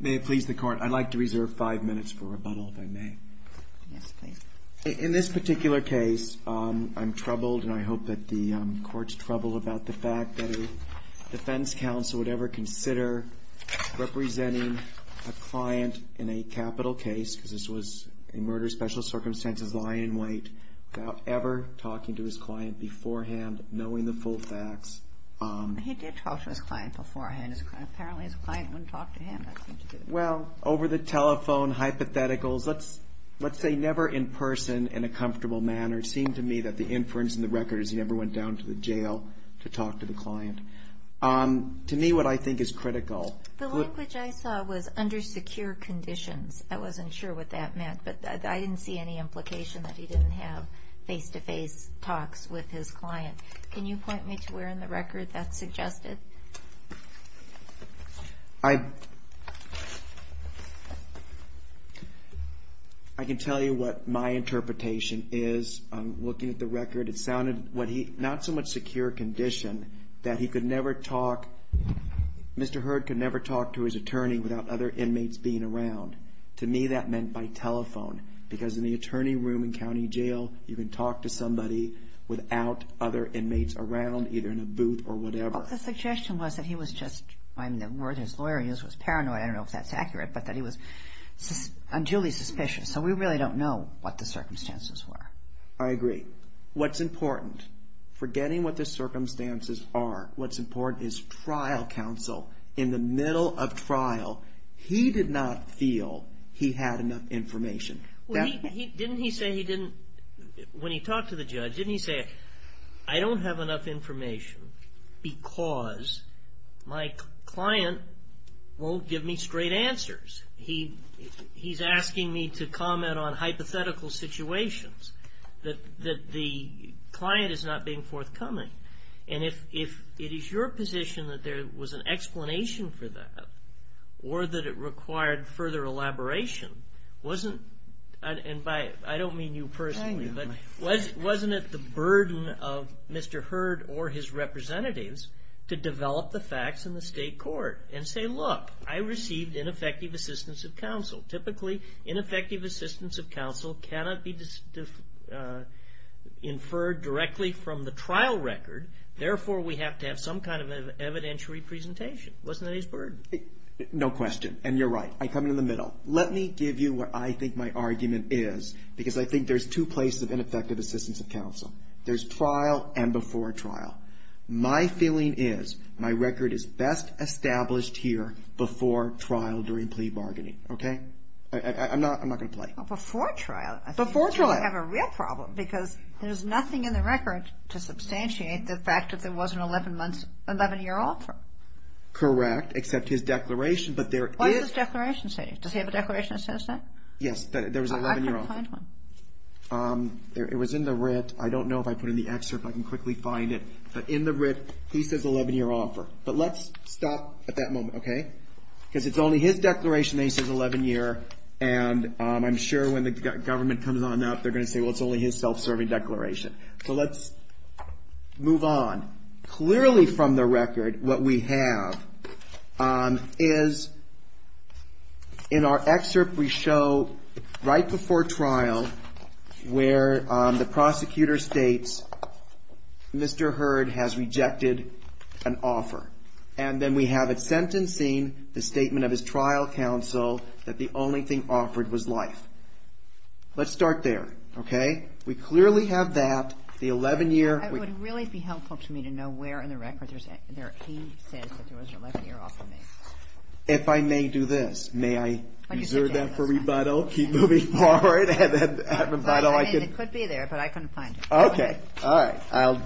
May it please the Court, I'd like to reserve five minutes for rebuttal, if I may. Yes, please. In this particular case, I'm troubled, and I hope that the Court's troubled, about the fact that a defense counsel would ever consider representing a client in a capital case, because this was a murder special circumstances, lying in wait, without ever talking to his client beforehand, knowing the full facts. He did talk to his client beforehand. Apparently, his client wouldn't talk to him. Well, over the telephone, hypotheticals, let's say never in person, in a comfortable manner, it seemed to me that the inference in the record is he never went down to the jail to talk to the client. To me, what I think is critical... The language I saw was under secure conditions. I wasn't sure what that meant, but I didn't see any implication that he didn't have face-to-face talks with his client. Can you point me to where in the record that's suggested? I can tell you what my interpretation is. I'm looking at the record. It sounded not so much secure condition that he could never talk... Mr. Hurd could never talk to his attorney without other inmates being around. To me, that meant by telephone, because in the attorney room in county jail, you can talk to somebody without other inmates around, either in a booth or whatever. The suggestion was that he was just... The word his lawyer used was paranoid. I don't know if that's accurate, but that he was unduly suspicious. So we really don't know what the circumstances were. I agree. What's important, forgetting what the circumstances are, what's important is trial counsel in the middle of trial. He did not feel he had enough information. Didn't he say he didn't... When he talked to the judge, didn't he say, I don't have enough information because my client won't give me straight answers. He's asking me to comment on hypothetical situations, that the client is not being forthcoming. And if it is your position that there was an explanation for that or that it required further elaboration, wasn't... I don't mean you personally, but wasn't it the burden of Mr. Hurd or his representatives to develop the facts in the state court and say, look, I received ineffective assistance of counsel. Typically, ineffective assistance of counsel cannot be inferred directly from the trial record. Therefore, we have to have some kind of evidentiary presentation. Wasn't that his burden? No question. And you're right. I come in the middle. Let me give you what I think my argument is because I think there's two places of ineffective assistance of counsel. There's trial and before trial. My feeling is my record is best established here before trial during plea bargaining. Okay? I'm not going to play. Before trial, I think you have a real problem because there's nothing in the record to substantiate the fact that there was an 11-year offer. Correct, except his declaration, but there is... What does his declaration say? Does he have a declaration that says that? Yes, there was an 11-year offer. I couldn't find one. It was in the writ. I don't know if I put it in the excerpt. I can quickly find it. But in the writ, he says 11-year offer. But let's stop at that moment, okay? Because it's only his declaration that he says 11-year, and I'm sure when the government comes on up, they're going to say, well, it's only his self-serving declaration. So let's move on. Clearly from the record, what we have is, in our excerpt, we show right before trial where the prosecutor states, Mr. Hurd has rejected an offer. And then we have it sentencing, the statement of his trial counsel, that the only thing offered was life. Let's start there, okay? We clearly have that. The 11-year... I need to know where in the record he says that there was an 11-year offer made. If I may do this, may I reserve that for rebuttal? Keep moving forward, and then at rebuttal I can... It could be there, but I couldn't find it. Okay. All right. I'll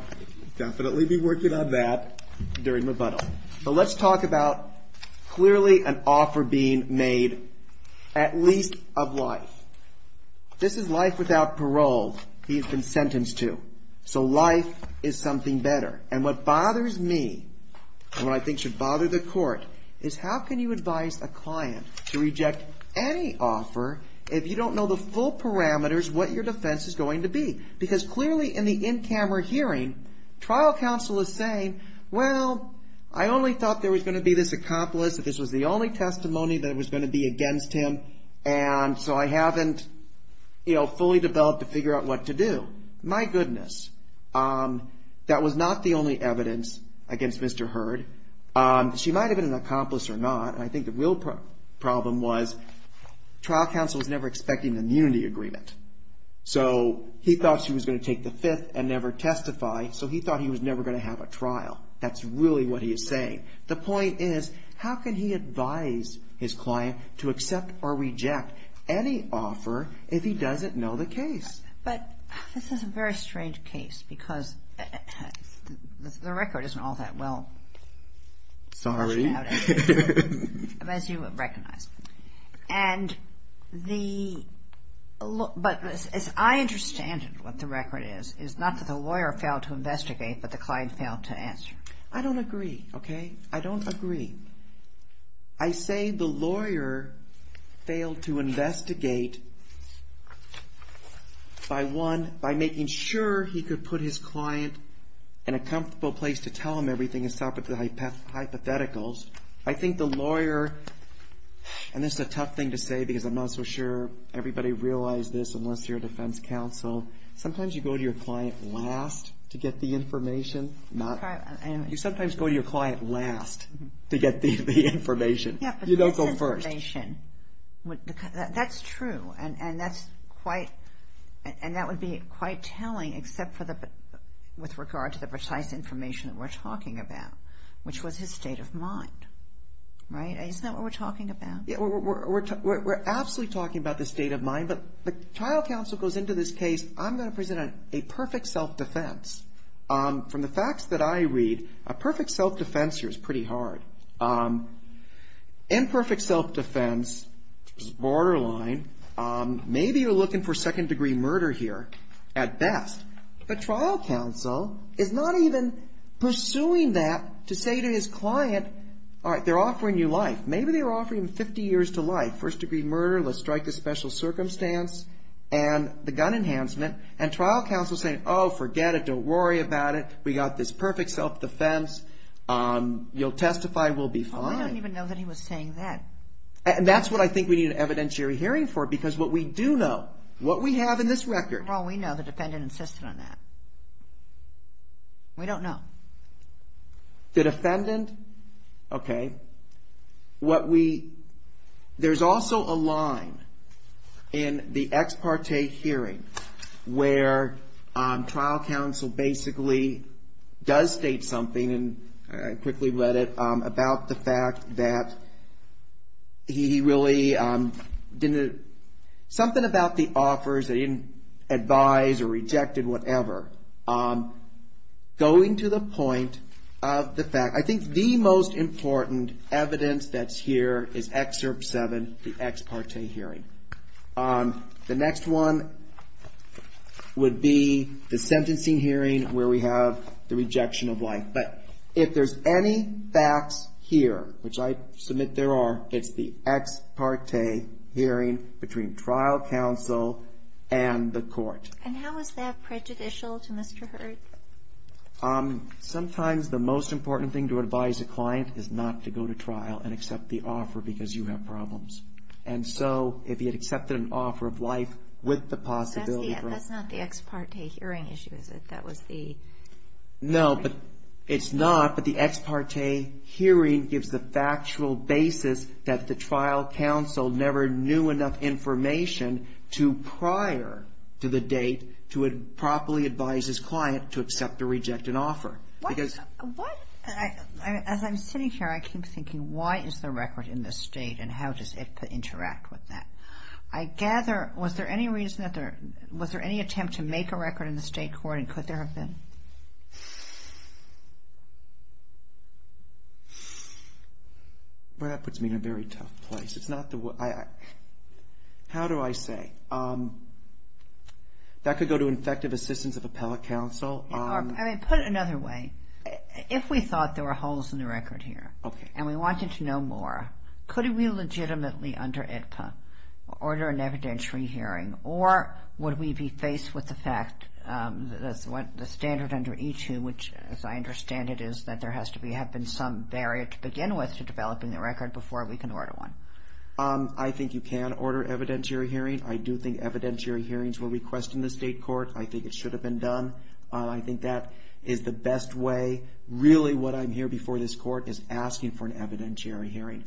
definitely be working on that during rebuttal. But let's talk about clearly an offer being made at least of life. This is life without parole he has been sentenced to. So life is something better. And what bothers me, and what I think should bother the court, is how can you advise a client to reject any offer if you don't know the full parameters what your defense is going to be? Because clearly in the in-camera hearing, trial counsel is saying, well, I only thought there was going to be this accomplice, that this was the only testimony that was going to be against him, and so I haven't fully developed to figure out what to do. My goodness, that was not the only evidence against Mr. Hurd. She might have been an accomplice or not, and I think the real problem was trial counsel was never expecting an immunity agreement. So he thought she was going to take the fifth and never testify, so he thought he was never going to have a trial. That's really what he is saying. The point is, how can he advise his client to accept or reject any offer if he doesn't know the case? But this is a very strange case because the record isn't all that well... Sorry. As you recognize. And the... But as I understand it, what the record is, is not that the lawyer failed to investigate, but the client failed to answer. I don't agree, okay? I don't agree. I say the lawyer failed to investigate by one, by making sure he could put his client in a comfortable place to tell him everything, and stop at the hypotheticals. I think the lawyer, and this is a tough thing to say because I'm not so sure everybody realized this unless you're a defense counsel, sometimes you go to your client last to get the information. You sometimes go to your client last to get the information. You don't go first. That's true, and that would be quite telling, except with regard to the precise information that we're talking about, which was his state of mind, right? Isn't that what we're talking about? We're absolutely talking about the state of mind, but the trial counsel goes into this case, I'm going to present a perfect self-defense. From the facts that I read, a perfect self-defense here is pretty hard. Imperfect self-defense is borderline. Maybe you're looking for second-degree murder here at best, but trial counsel is not even pursuing that to say to his client, all right, they're offering you life. Maybe they're offering 50 years to life, first-degree murder, let's strike this special circumstance, and the gun enhancement, and trial counsel is saying, oh, forget it. Don't worry about it. We got this perfect self-defense. You'll testify. We'll be fine. Well, we don't even know that he was saying that. And that's what I think we need an evidentiary hearing for, because what we do know, what we have in this record. Well, we know the defendant insisted on that. We don't know. The defendant? Okay. There's also a line in the ex parte hearing where trial counsel basically does state something, and I quickly read it, about the fact that he really didn't, something about the offers that he didn't advise or rejected, whatever, going to the point of the fact. I think the most important evidence that's here is Excerpt 7, the ex parte hearing. The next one would be the sentencing hearing where we have the rejection of life. But if there's any facts here, which I submit there are, it's the ex parte hearing between trial counsel and the court. And how is that prejudicial to Mr. Hurd? Sometimes the most important thing to advise a client is not to go to trial and accept the offer because you have problems. And so, if he had accepted an offer of life with the possibility for a... That's not the ex parte hearing issue, is it? That was the... No, but it's not, but the ex parte hearing gives the factual basis that the trial counsel never knew enough information prior to the date to properly advise his client to accept or reject an offer. Because... As I'm sitting here, I keep thinking, why is the record in the state and how does it interact with that? I gather, was there any attempt to make a record in the state court and could there have been? Well, that puts me in a very tough place. It's not the... How do I say? That could go to Infective Assistance of Appellate Counsel. I mean, put it another way. If we thought there were holes in the record here and we wanted to know more, could we legitimately, under AEDPA, order an evidentiary hearing or would we be faced with the fact that the standard under E2, which as I understand it is that there has to have been some barrier to begin with to developing the record before we can order one? I think you can order evidentiary hearing. I do think evidentiary hearings were requested in the state court. I think it should have been done. I think that is the best way. Really, what I'm hearing before this court is asking for an evidentiary hearing.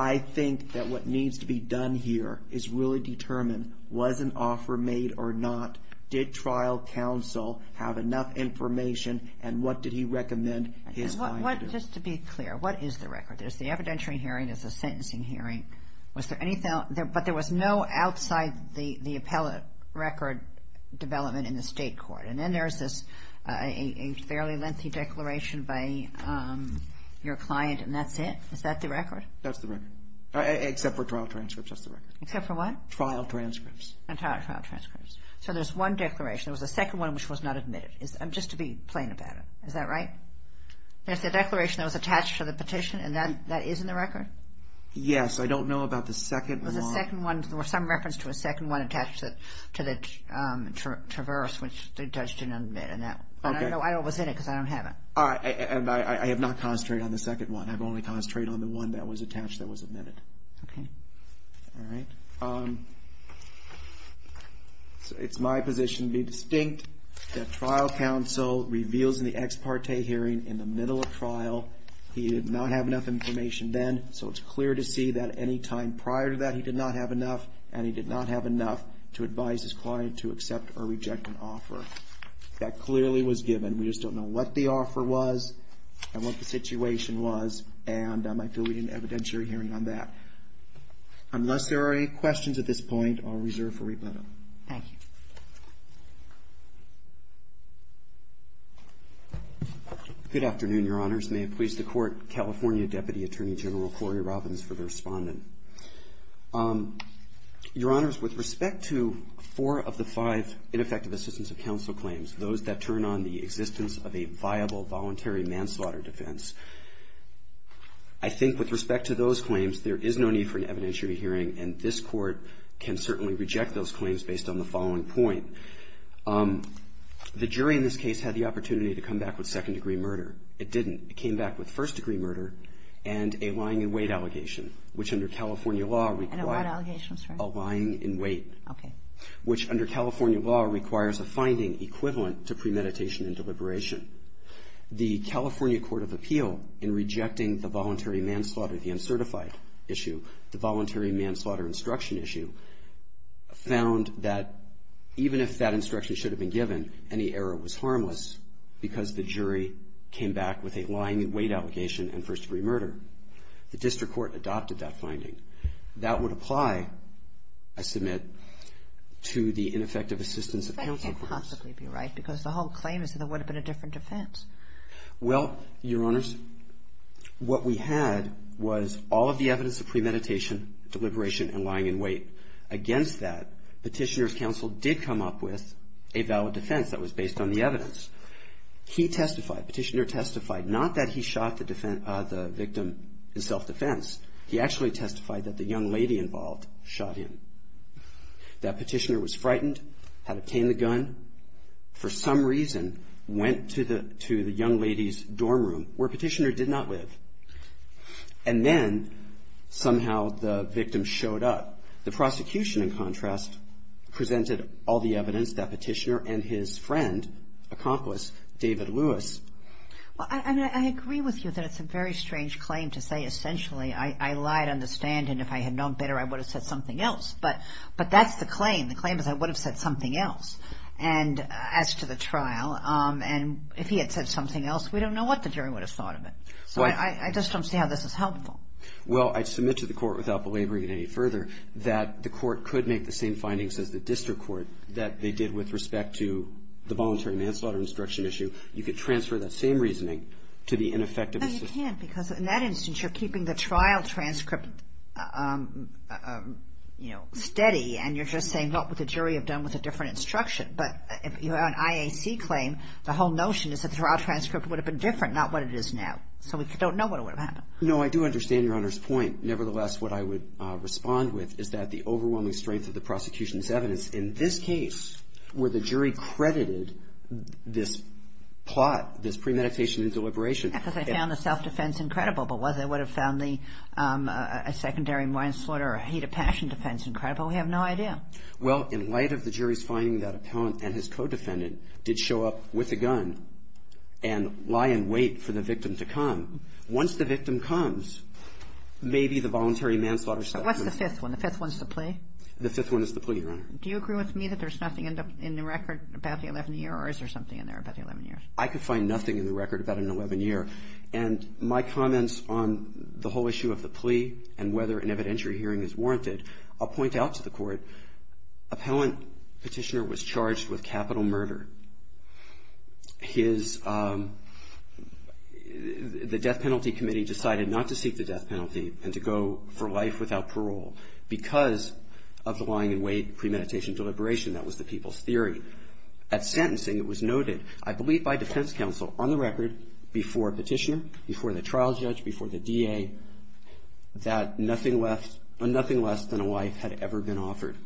I think that what needs to be done here is really determine was an offer made or not, did trial counsel have enough information, and what did he recommend his client do? Just to be clear, what is the record? There's the evidentiary hearing, there's the sentencing hearing. But there was no outside the appellate record development in the state court. And then there's this fairly lengthy declaration by your client, and that's it? Is that the record? That's the record. Except for trial transcripts, that's the record. Except for what? Trial transcripts. And trial transcripts. So there's one declaration. There was a second one which was not admitted, just to be plain about it. Is that right? There's the declaration that was attached to the petition, and that is in the record? Yes. I don't know about the second one. There was a second one. There was some reference to a second one attached to the Traverse, which the judge didn't admit. But I don't know why it was in it because I don't have it. I have not concentrated on the second one. I've only concentrated on the one that was attached that was admitted. Okay. All right. It's my position to be distinct that trial counsel reveals in the ex parte hearing in the middle of trial he did not have enough information then, so it's clear to see that any time prior to that he did not have enough, and he did not have enough to advise his client to accept or reject an offer. That clearly was given. We just don't know what the offer was and what the situation was, and I feel we didn't evidence your hearing on that. Unless there are any questions at this point, I'll reserve for rebuttal. Thank you. Good afternoon, Your Honors. May it please the Court, California Deputy Attorney General Corey Robbins for the respondent. Your Honors, with respect to four of the five ineffective assistance of counsel claims, those that turn on the existence of a viable voluntary manslaughter defense, I think with respect to those claims, there is no need for an evidentiary hearing, and this Court can certainly reject those claims based on the following point. The jury in this case had the opportunity to come back with second degree murder. It didn't. It came back with first degree murder and a lying in wait allegation, which under California law requires a finding equivalent to premeditation and deliberation. The California Court of Appeal in rejecting the voluntary manslaughter, the uncertified issue, the voluntary manslaughter instruction issue, found that even if that instruction should have been given, any error was harmless because the jury came back with a lying in wait allegation and first degree murder. The district court adopted that finding. That would apply, I submit, to the ineffective assistance of counsel claims. That can't possibly be right because the whole claim is that there would have been a different defense. Well, Your Honors, what we had was all of the evidence of premeditation, deliberation, and lying in wait. Against that, Petitioner's counsel did come up with a valid defense that was based on the evidence. He testified, Petitioner testified, not that he shot the victim in self-defense. He actually testified that the young lady involved shot him. That Petitioner was frightened, had obtained the gun, for some reason, went to the young lady's dorm room where Petitioner did not live, and then somehow the victim showed up. The prosecution, in contrast, presented all the evidence that Petitioner and his friend, accomplice David Lewis. Well, I agree with you that it's a very strange claim to say essentially I lied on the stand and if I had known better I would have said something else. But that's the claim. If he had said something else, we don't know what the jury would have thought of it. So I just don't see how this is helpful. Well, I submit to the court without belaboring it any further that the court could make the same findings as the district court that they did with respect to the voluntary manslaughter instruction issue. You could transfer that same reasoning to the ineffective assistant. But you can't because in that instance you're keeping the trial transcript steady and you're just saying what would the jury have done with a different instruction. But if you have an IAC claim, the whole notion is that the trial transcript would have been different, not what it is now. So we don't know what would have happened. No, I do understand Your Honor's point. Nevertheless, what I would respond with is that the overwhelming strength of the prosecution's evidence in this case where the jury credited this plot, this premeditation and deliberation. Because they found the self-defense incredible. But whether they would have found a secondary manslaughter or a hate of passion defense incredible, we have no idea. Well, in light of the jury's finding that Appellant and his co-defendant did show up with a gun and lie in wait for the victim to come. Once the victim comes, maybe the voluntary manslaughter step. But what's the fifth one? The fifth one's the plea? The fifth one is the plea, Your Honor. Do you agree with me that there's nothing in the record about the 11-year or is there something in there about the 11 years? I could find nothing in the record about an 11-year. And my comments on the whole issue of the plea and whether an evidentiary hearing is warranted, I'll point out to the court, Appellant Petitioner was charged with capital murder. The death penalty committee decided not to seek the death penalty and to go for life without parole because of the lying in wait premeditation deliberation. That was the people's theory. At sentencing, it was noted, I believe by defense counsel, on the record, before Petitioner, before the trial judge, before the DA, that nothing less than a wife had ever been offered.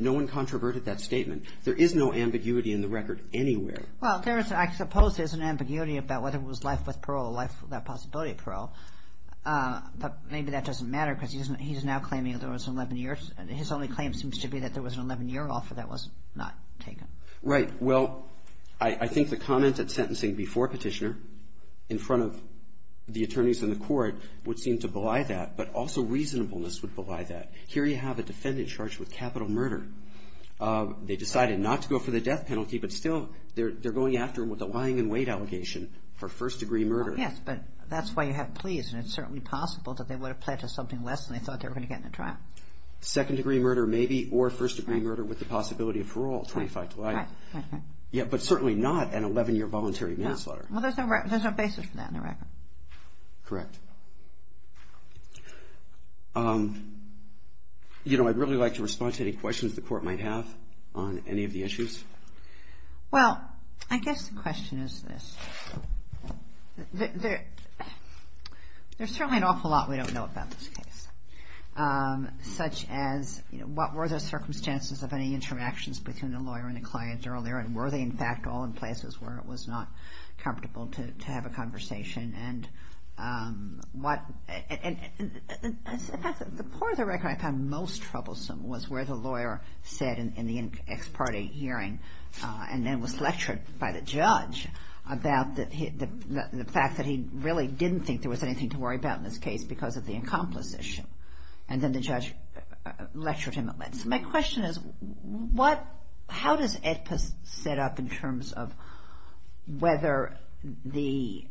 No one controverted that statement. There is no ambiguity in the record anywhere. Well, I suppose there's an ambiguity about whether it was life with parole or life without possibility of parole. But maybe that doesn't matter because he's now claiming there was an 11-year. His only claim seems to be that there was an 11-year offer that was not taken. Right. Well, I think the comment at sentencing before Petitioner in front of the attorneys in the court would seem to belie that, but also reasonableness would belie that. Here you have a defendant charged with capital murder. They decided not to go for the death penalty, but still they're going after him with a lying in wait allegation for first-degree murder. Yes, but that's why you have pleas, and it's certainly possible that they would have pledged something less than they thought they were going to get in the trial. Second-degree murder, maybe, or first-degree murder with the possibility of parole, 25 to life. But certainly not an 11-year voluntary manslaughter. Well, there's no basis for that in the record. Correct. You know, I'd really like to respond to any questions the court might have on any of the issues. Well, I guess the question is this. There's certainly an awful lot we don't know about this case. Such as, you know, what were the circumstances of any interactions between the lawyer and the client earlier, and were they, in fact, all in places where it was not comfortable to have a conversation? And the part of the record I found most troublesome was where the lawyer said in the ex parte hearing, and then was lectured by the judge about the fact that he really didn't think there was anything to worry about in this case because of the incompetence issue. And then the judge lectured him. So my question is, how does AEDPA set up in terms of whether the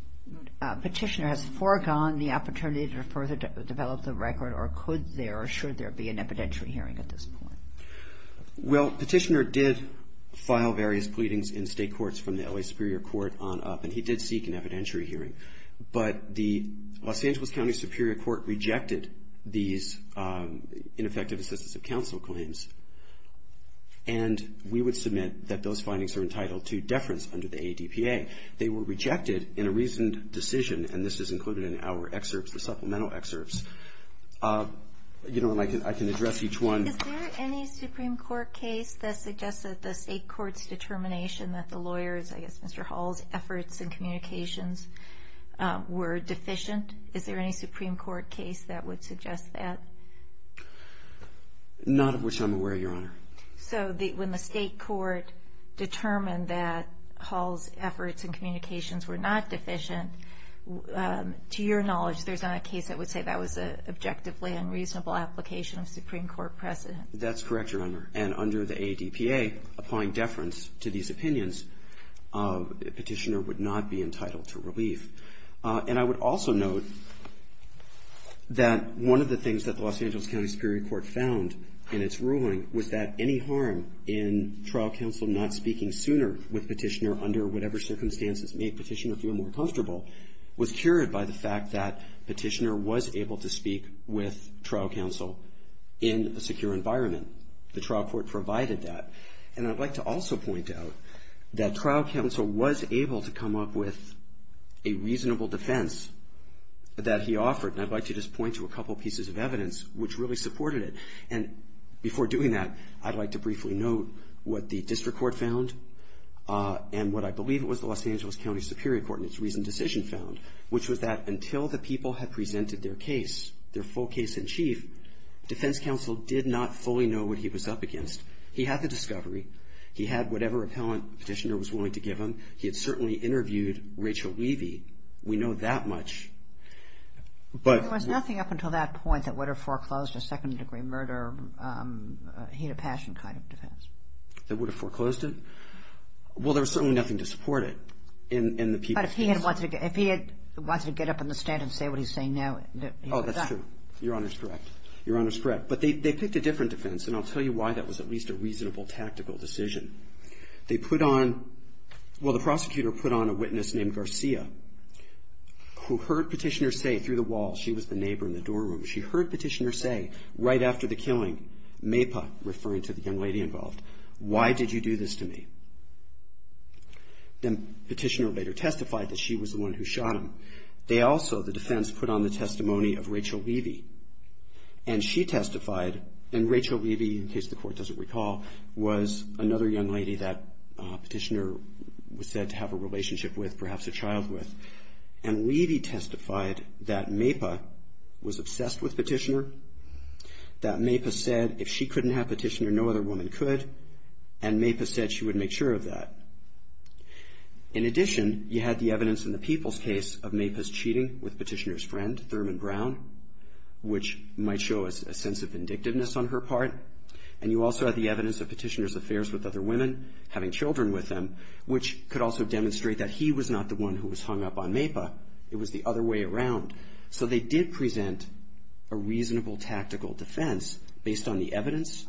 petitioner has foregone the opportunity to further develop the record, or could there or should there be an evidentiary hearing at this point? Well, the petitioner did file various pleadings in state courts from the L.A. Superior Court on up, and he did seek an evidentiary hearing. But the Los Angeles County Superior Court rejected these ineffective assistance of counsel claims. And we would submit that those findings are entitled to deference under the AEDPA. They were rejected in a recent decision, and this is included in our excerpts, the supplemental excerpts. You know, and I can address each one. Is there any Supreme Court case that suggests that the state court's determination that the lawyers, I guess Mr. Hall's, efforts and communications were deficient? Is there any Supreme Court case that would suggest that? Not of which I'm aware, Your Honor. So when the state court determined that Hall's efforts and communications were not deficient, to your knowledge there's not a case that would say that was an objectively unreasonable application of Supreme Court precedent. That's correct, Your Honor. And under the AEDPA, applying deference to these opinions, petitioner would not be entitled to relief. And I would also note that one of the things that the Los Angeles County Superior Court found in its ruling was that any harm in trial counsel not speaking sooner with petitioner under whatever circumstances made petitioner feel more comfortable was cured by the fact that petitioner was able to speak with trial counsel in a secure environment. The trial court provided that. And I'd like to also point out that trial counsel was able to come up with a reasonable defense that he offered. And I'd like to just point to a couple pieces of evidence which really supported it. And before doing that, I'd like to briefly note what the district court found and what I believe was the Los Angeles County Superior Court in its recent decision found, which was that until the people had presented their case, their full case in chief, defense counsel did not fully know what he was up against. He had the discovery. He had whatever appellant petitioner was willing to give him. He had certainly interviewed Rachel Weavey. We know that much. There was nothing up until that point that would have foreclosed a second-degree murder, heat of passion kind of defense. That would have foreclosed it? Well, there was certainly nothing to support it in the people's case. But if he had wanted to get up on the stand and say what he's saying now, he would have done it. Oh, that's true. Your Honor's correct. Your Honor's correct. But they picked a different defense, and I'll tell you why. That was at least a reasonable tactical decision. They put on – well, the prosecutor put on a witness named Garcia, who heard Petitioner say through the wall she was the neighbor in the door room. She heard Petitioner say right after the killing, MAPA, referring to the young lady involved, why did you do this to me? Then Petitioner later testified that she was the one who shot him. They also, the defense, put on the testimony of Rachel Levy. And she testified, and Rachel Levy, in case the Court doesn't recall, was another young lady that Petitioner was said to have a relationship with, perhaps a child with. And Levy testified that MAPA was obsessed with Petitioner, that MAPA said if she couldn't have Petitioner, no other woman could, and MAPA said she would make sure of that. In addition, you had the evidence in the Peoples case of MAPA's cheating with Petitioner's friend, Thurman Brown, which might show a sense of vindictiveness on her part. And you also had the evidence of Petitioner's affairs with other women, having children with them, which could also demonstrate that he was not the one who was hung up on MAPA. It was the other way around. So they did present a reasonable tactical defense based on the evidence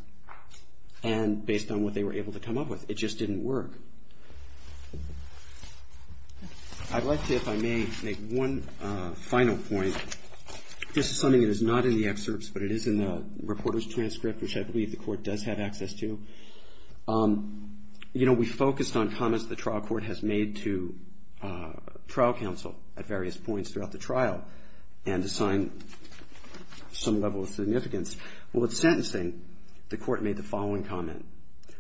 and based on what they were able to come up with. It just didn't work. I'd like to, if I may, make one final point. This is something that is not in the excerpts, but it is in the reporter's transcript, which I believe the Court does have access to. You know, we focused on comments the trial court has made to trial counsel at various points throughout the trial and assigned some level of significance. Well, with sentencing, the Court made the following comment.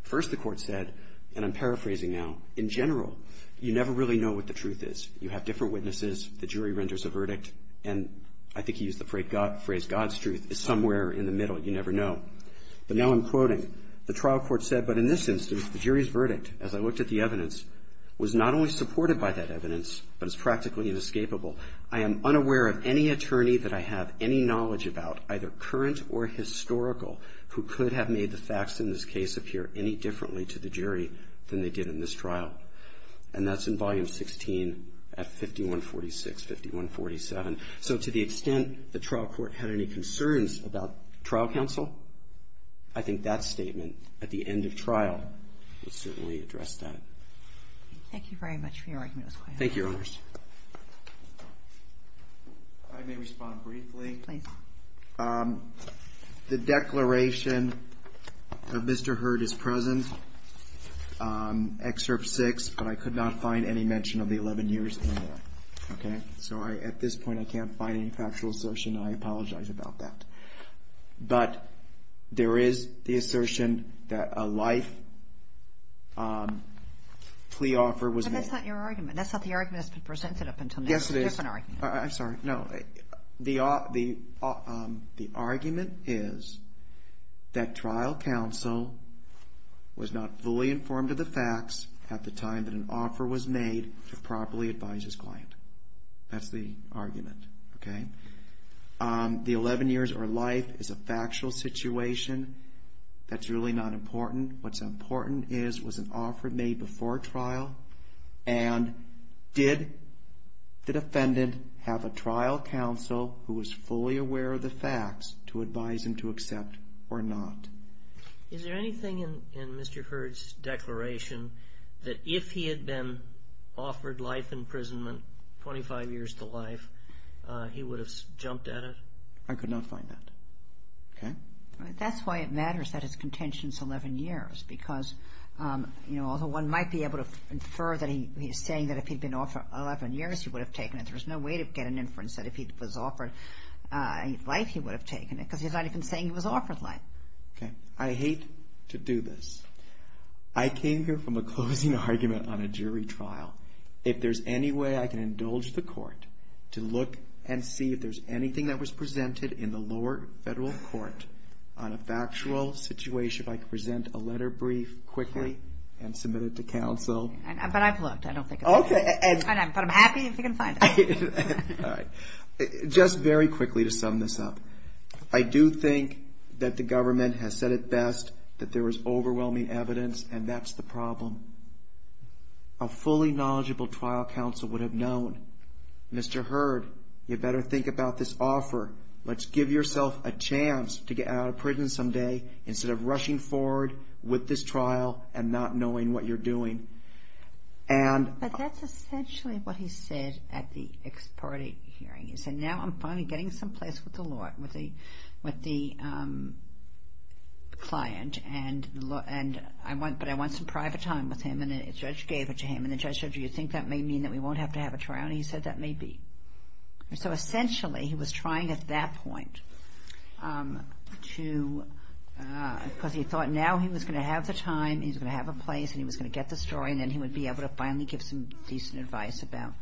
First, the Court said, and I'm paraphrasing now, in general, you never really know what the truth is. You have different witnesses, the jury renders a verdict, and I think he used the phrase God's truth is somewhere in the middle. You never know. But now I'm quoting. The trial court said, but in this instance, the jury's verdict, as I looked at the evidence, was not only supported by that evidence, but it's practically inescapable. I am unaware of any attorney that I have any knowledge about, either current or historical, who could have made the facts in this case appear any differently to the jury than they did in this trial. And that's in Volume 16 at 5146, 5147. So to the extent the trial court had any concerns about trial counsel, I think that statement at the end of trial would certainly address that. Thank you very much for your argument, Mr. Quahog. Thank you, Your Honors. I may respond briefly. Please. The declaration of Mr. Hurd is present, Excerpt 6, but I could not find any mention of the 11 years in there. Okay? So at this point, I can't find any factual assertion, and I apologize about that. But there is the assertion that a life plea offer was made. That's not your argument. That's not the argument that's been presented up until now. Yes, it is. It's a different argument. I'm sorry. No. The argument is that trial counsel was not fully informed of the facts at the time that an offer was made to properly advise his client. That's the argument. Okay? The 11 years or life is a factual situation. That's really not important. What's important is was an offer made before trial, and did the defendant have a trial counsel who was fully aware of the facts to advise him to accept or not? Is there anything in Mr. Hurd's declaration that if he had been offered life imprisonment, 25 years to life, he would have jumped at it? I could not find that. Okay? That's why it matters that his contention is 11 years because, you know, although one might be able to infer that he's saying that if he'd been offered 11 years, he would have taken it, there's no way to get an inference that if he was offered life, he would have taken it because he's not even saying he was offered life. Okay. I hate to do this. I came here from a closing argument on a jury trial. If there's any way I can indulge the court to look and see if there's anything that was presented in the lower federal court on a factual situation, if I could present a letter brief quickly and submit it to counsel. But I've looked. I don't think it's there. Okay. But I'm happy if you can find it. All right. Just very quickly to sum this up. I do think that the government has said it best, that there was overwhelming evidence, and that's the problem. A fully knowledgeable trial counsel would have known, Mr. Hurd, you better think about this offer. Let's give yourself a chance to get out of prison someday instead of rushing forward with this trial and not knowing what you're doing. But that's essentially what he said at the ex parte hearing. He said, now I'm finally getting some place with the client, but I want some private time with him. And the judge gave it to him. And the judge said, do you think that may mean that we won't have to have a trial? And he said, that may be. So essentially he was trying at that point to – because he thought now he was going to have the time, he was going to have a place, and he was going to get the story, and then he would be able to finally give some decent advice about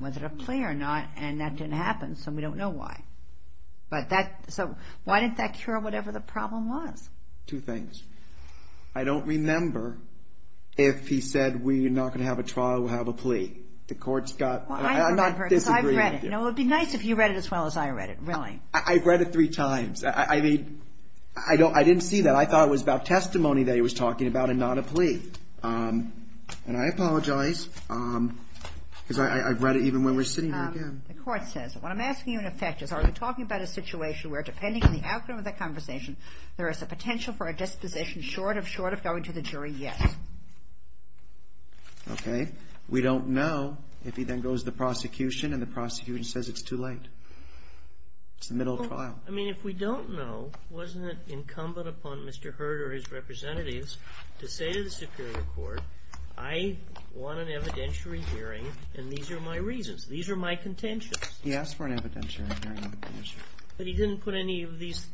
whether to play or not. And that didn't happen, so we don't know why. But that – so why didn't that cure whatever the problem was? Two things. I don't remember if he said we're not going to have a trial, we'll have a plea. The court's got – I'm not disagreeing with you. Well, I remember because I've read it. It would be nice if you read it as well as I read it, really. I've read it three times. I mean, I didn't see that. I thought it was about testimony that he was talking about and not a plea. And I apologize because I've read it even when we're sitting here again. The court says – what I'm asking you, in effect, is are we talking about a situation where, depending on the outcome of the conversation, there is a potential for a disposition short of short of going to the jury, yes? Okay. We don't know if he then goes to the prosecution and the prosecution says it's too late. It's the middle of trial. Well, I mean, if we don't know, wasn't it incumbent upon Mr. Hurd or his representatives to say to the Superior Court, I want an evidentiary hearing and these are my reasons, these are my contentions? He asked for an evidentiary hearing. But he didn't put any of these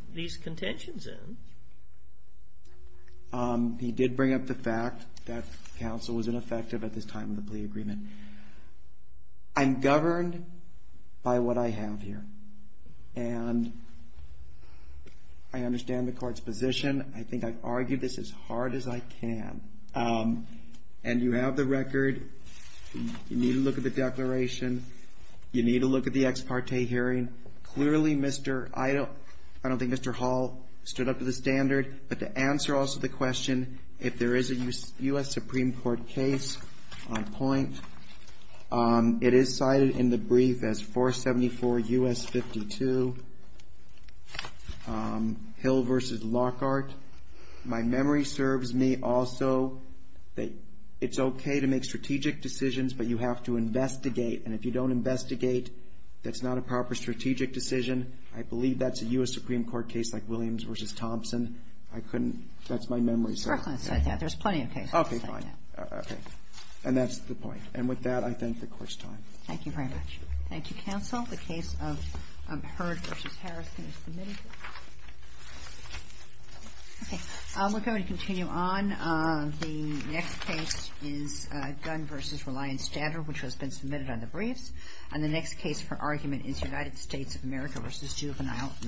contentions in. He did bring up the fact that counsel was ineffective at this time of the plea agreement. I'm governed by what I have here, and I understand the court's position. I think I've argued this as hard as I can, and you have the record. You need to look at the declaration. You need to look at the ex parte hearing. Clearly, I don't think Mr. Hall stood up to the standard. But to answer also the question, if there is a U.S. Supreme Court case on point, it is cited in the brief as 474 U.S. 52 Hill v. Lockhart. My memory serves me also that it's okay to make strategic decisions, but you have to investigate. And if you don't investigate, that's not a proper strategic decision. I believe that's a U.S. Supreme Court case like Williams v. Thompson. I couldn't – that's my memory. Sir, I can't cite that. There's plenty of cases. Okay, fine. Okay. And that's the point. And with that, I thank the Court's time. Thank you very much. Thank you, counsel. The case of Hurd v. Harris can be submitted. Okay. We're going to continue on. The next case is Gunn v. Reliant Standard, which has been submitted on the briefs. And the next case for argument is United States of America v. Juvenile Medicine.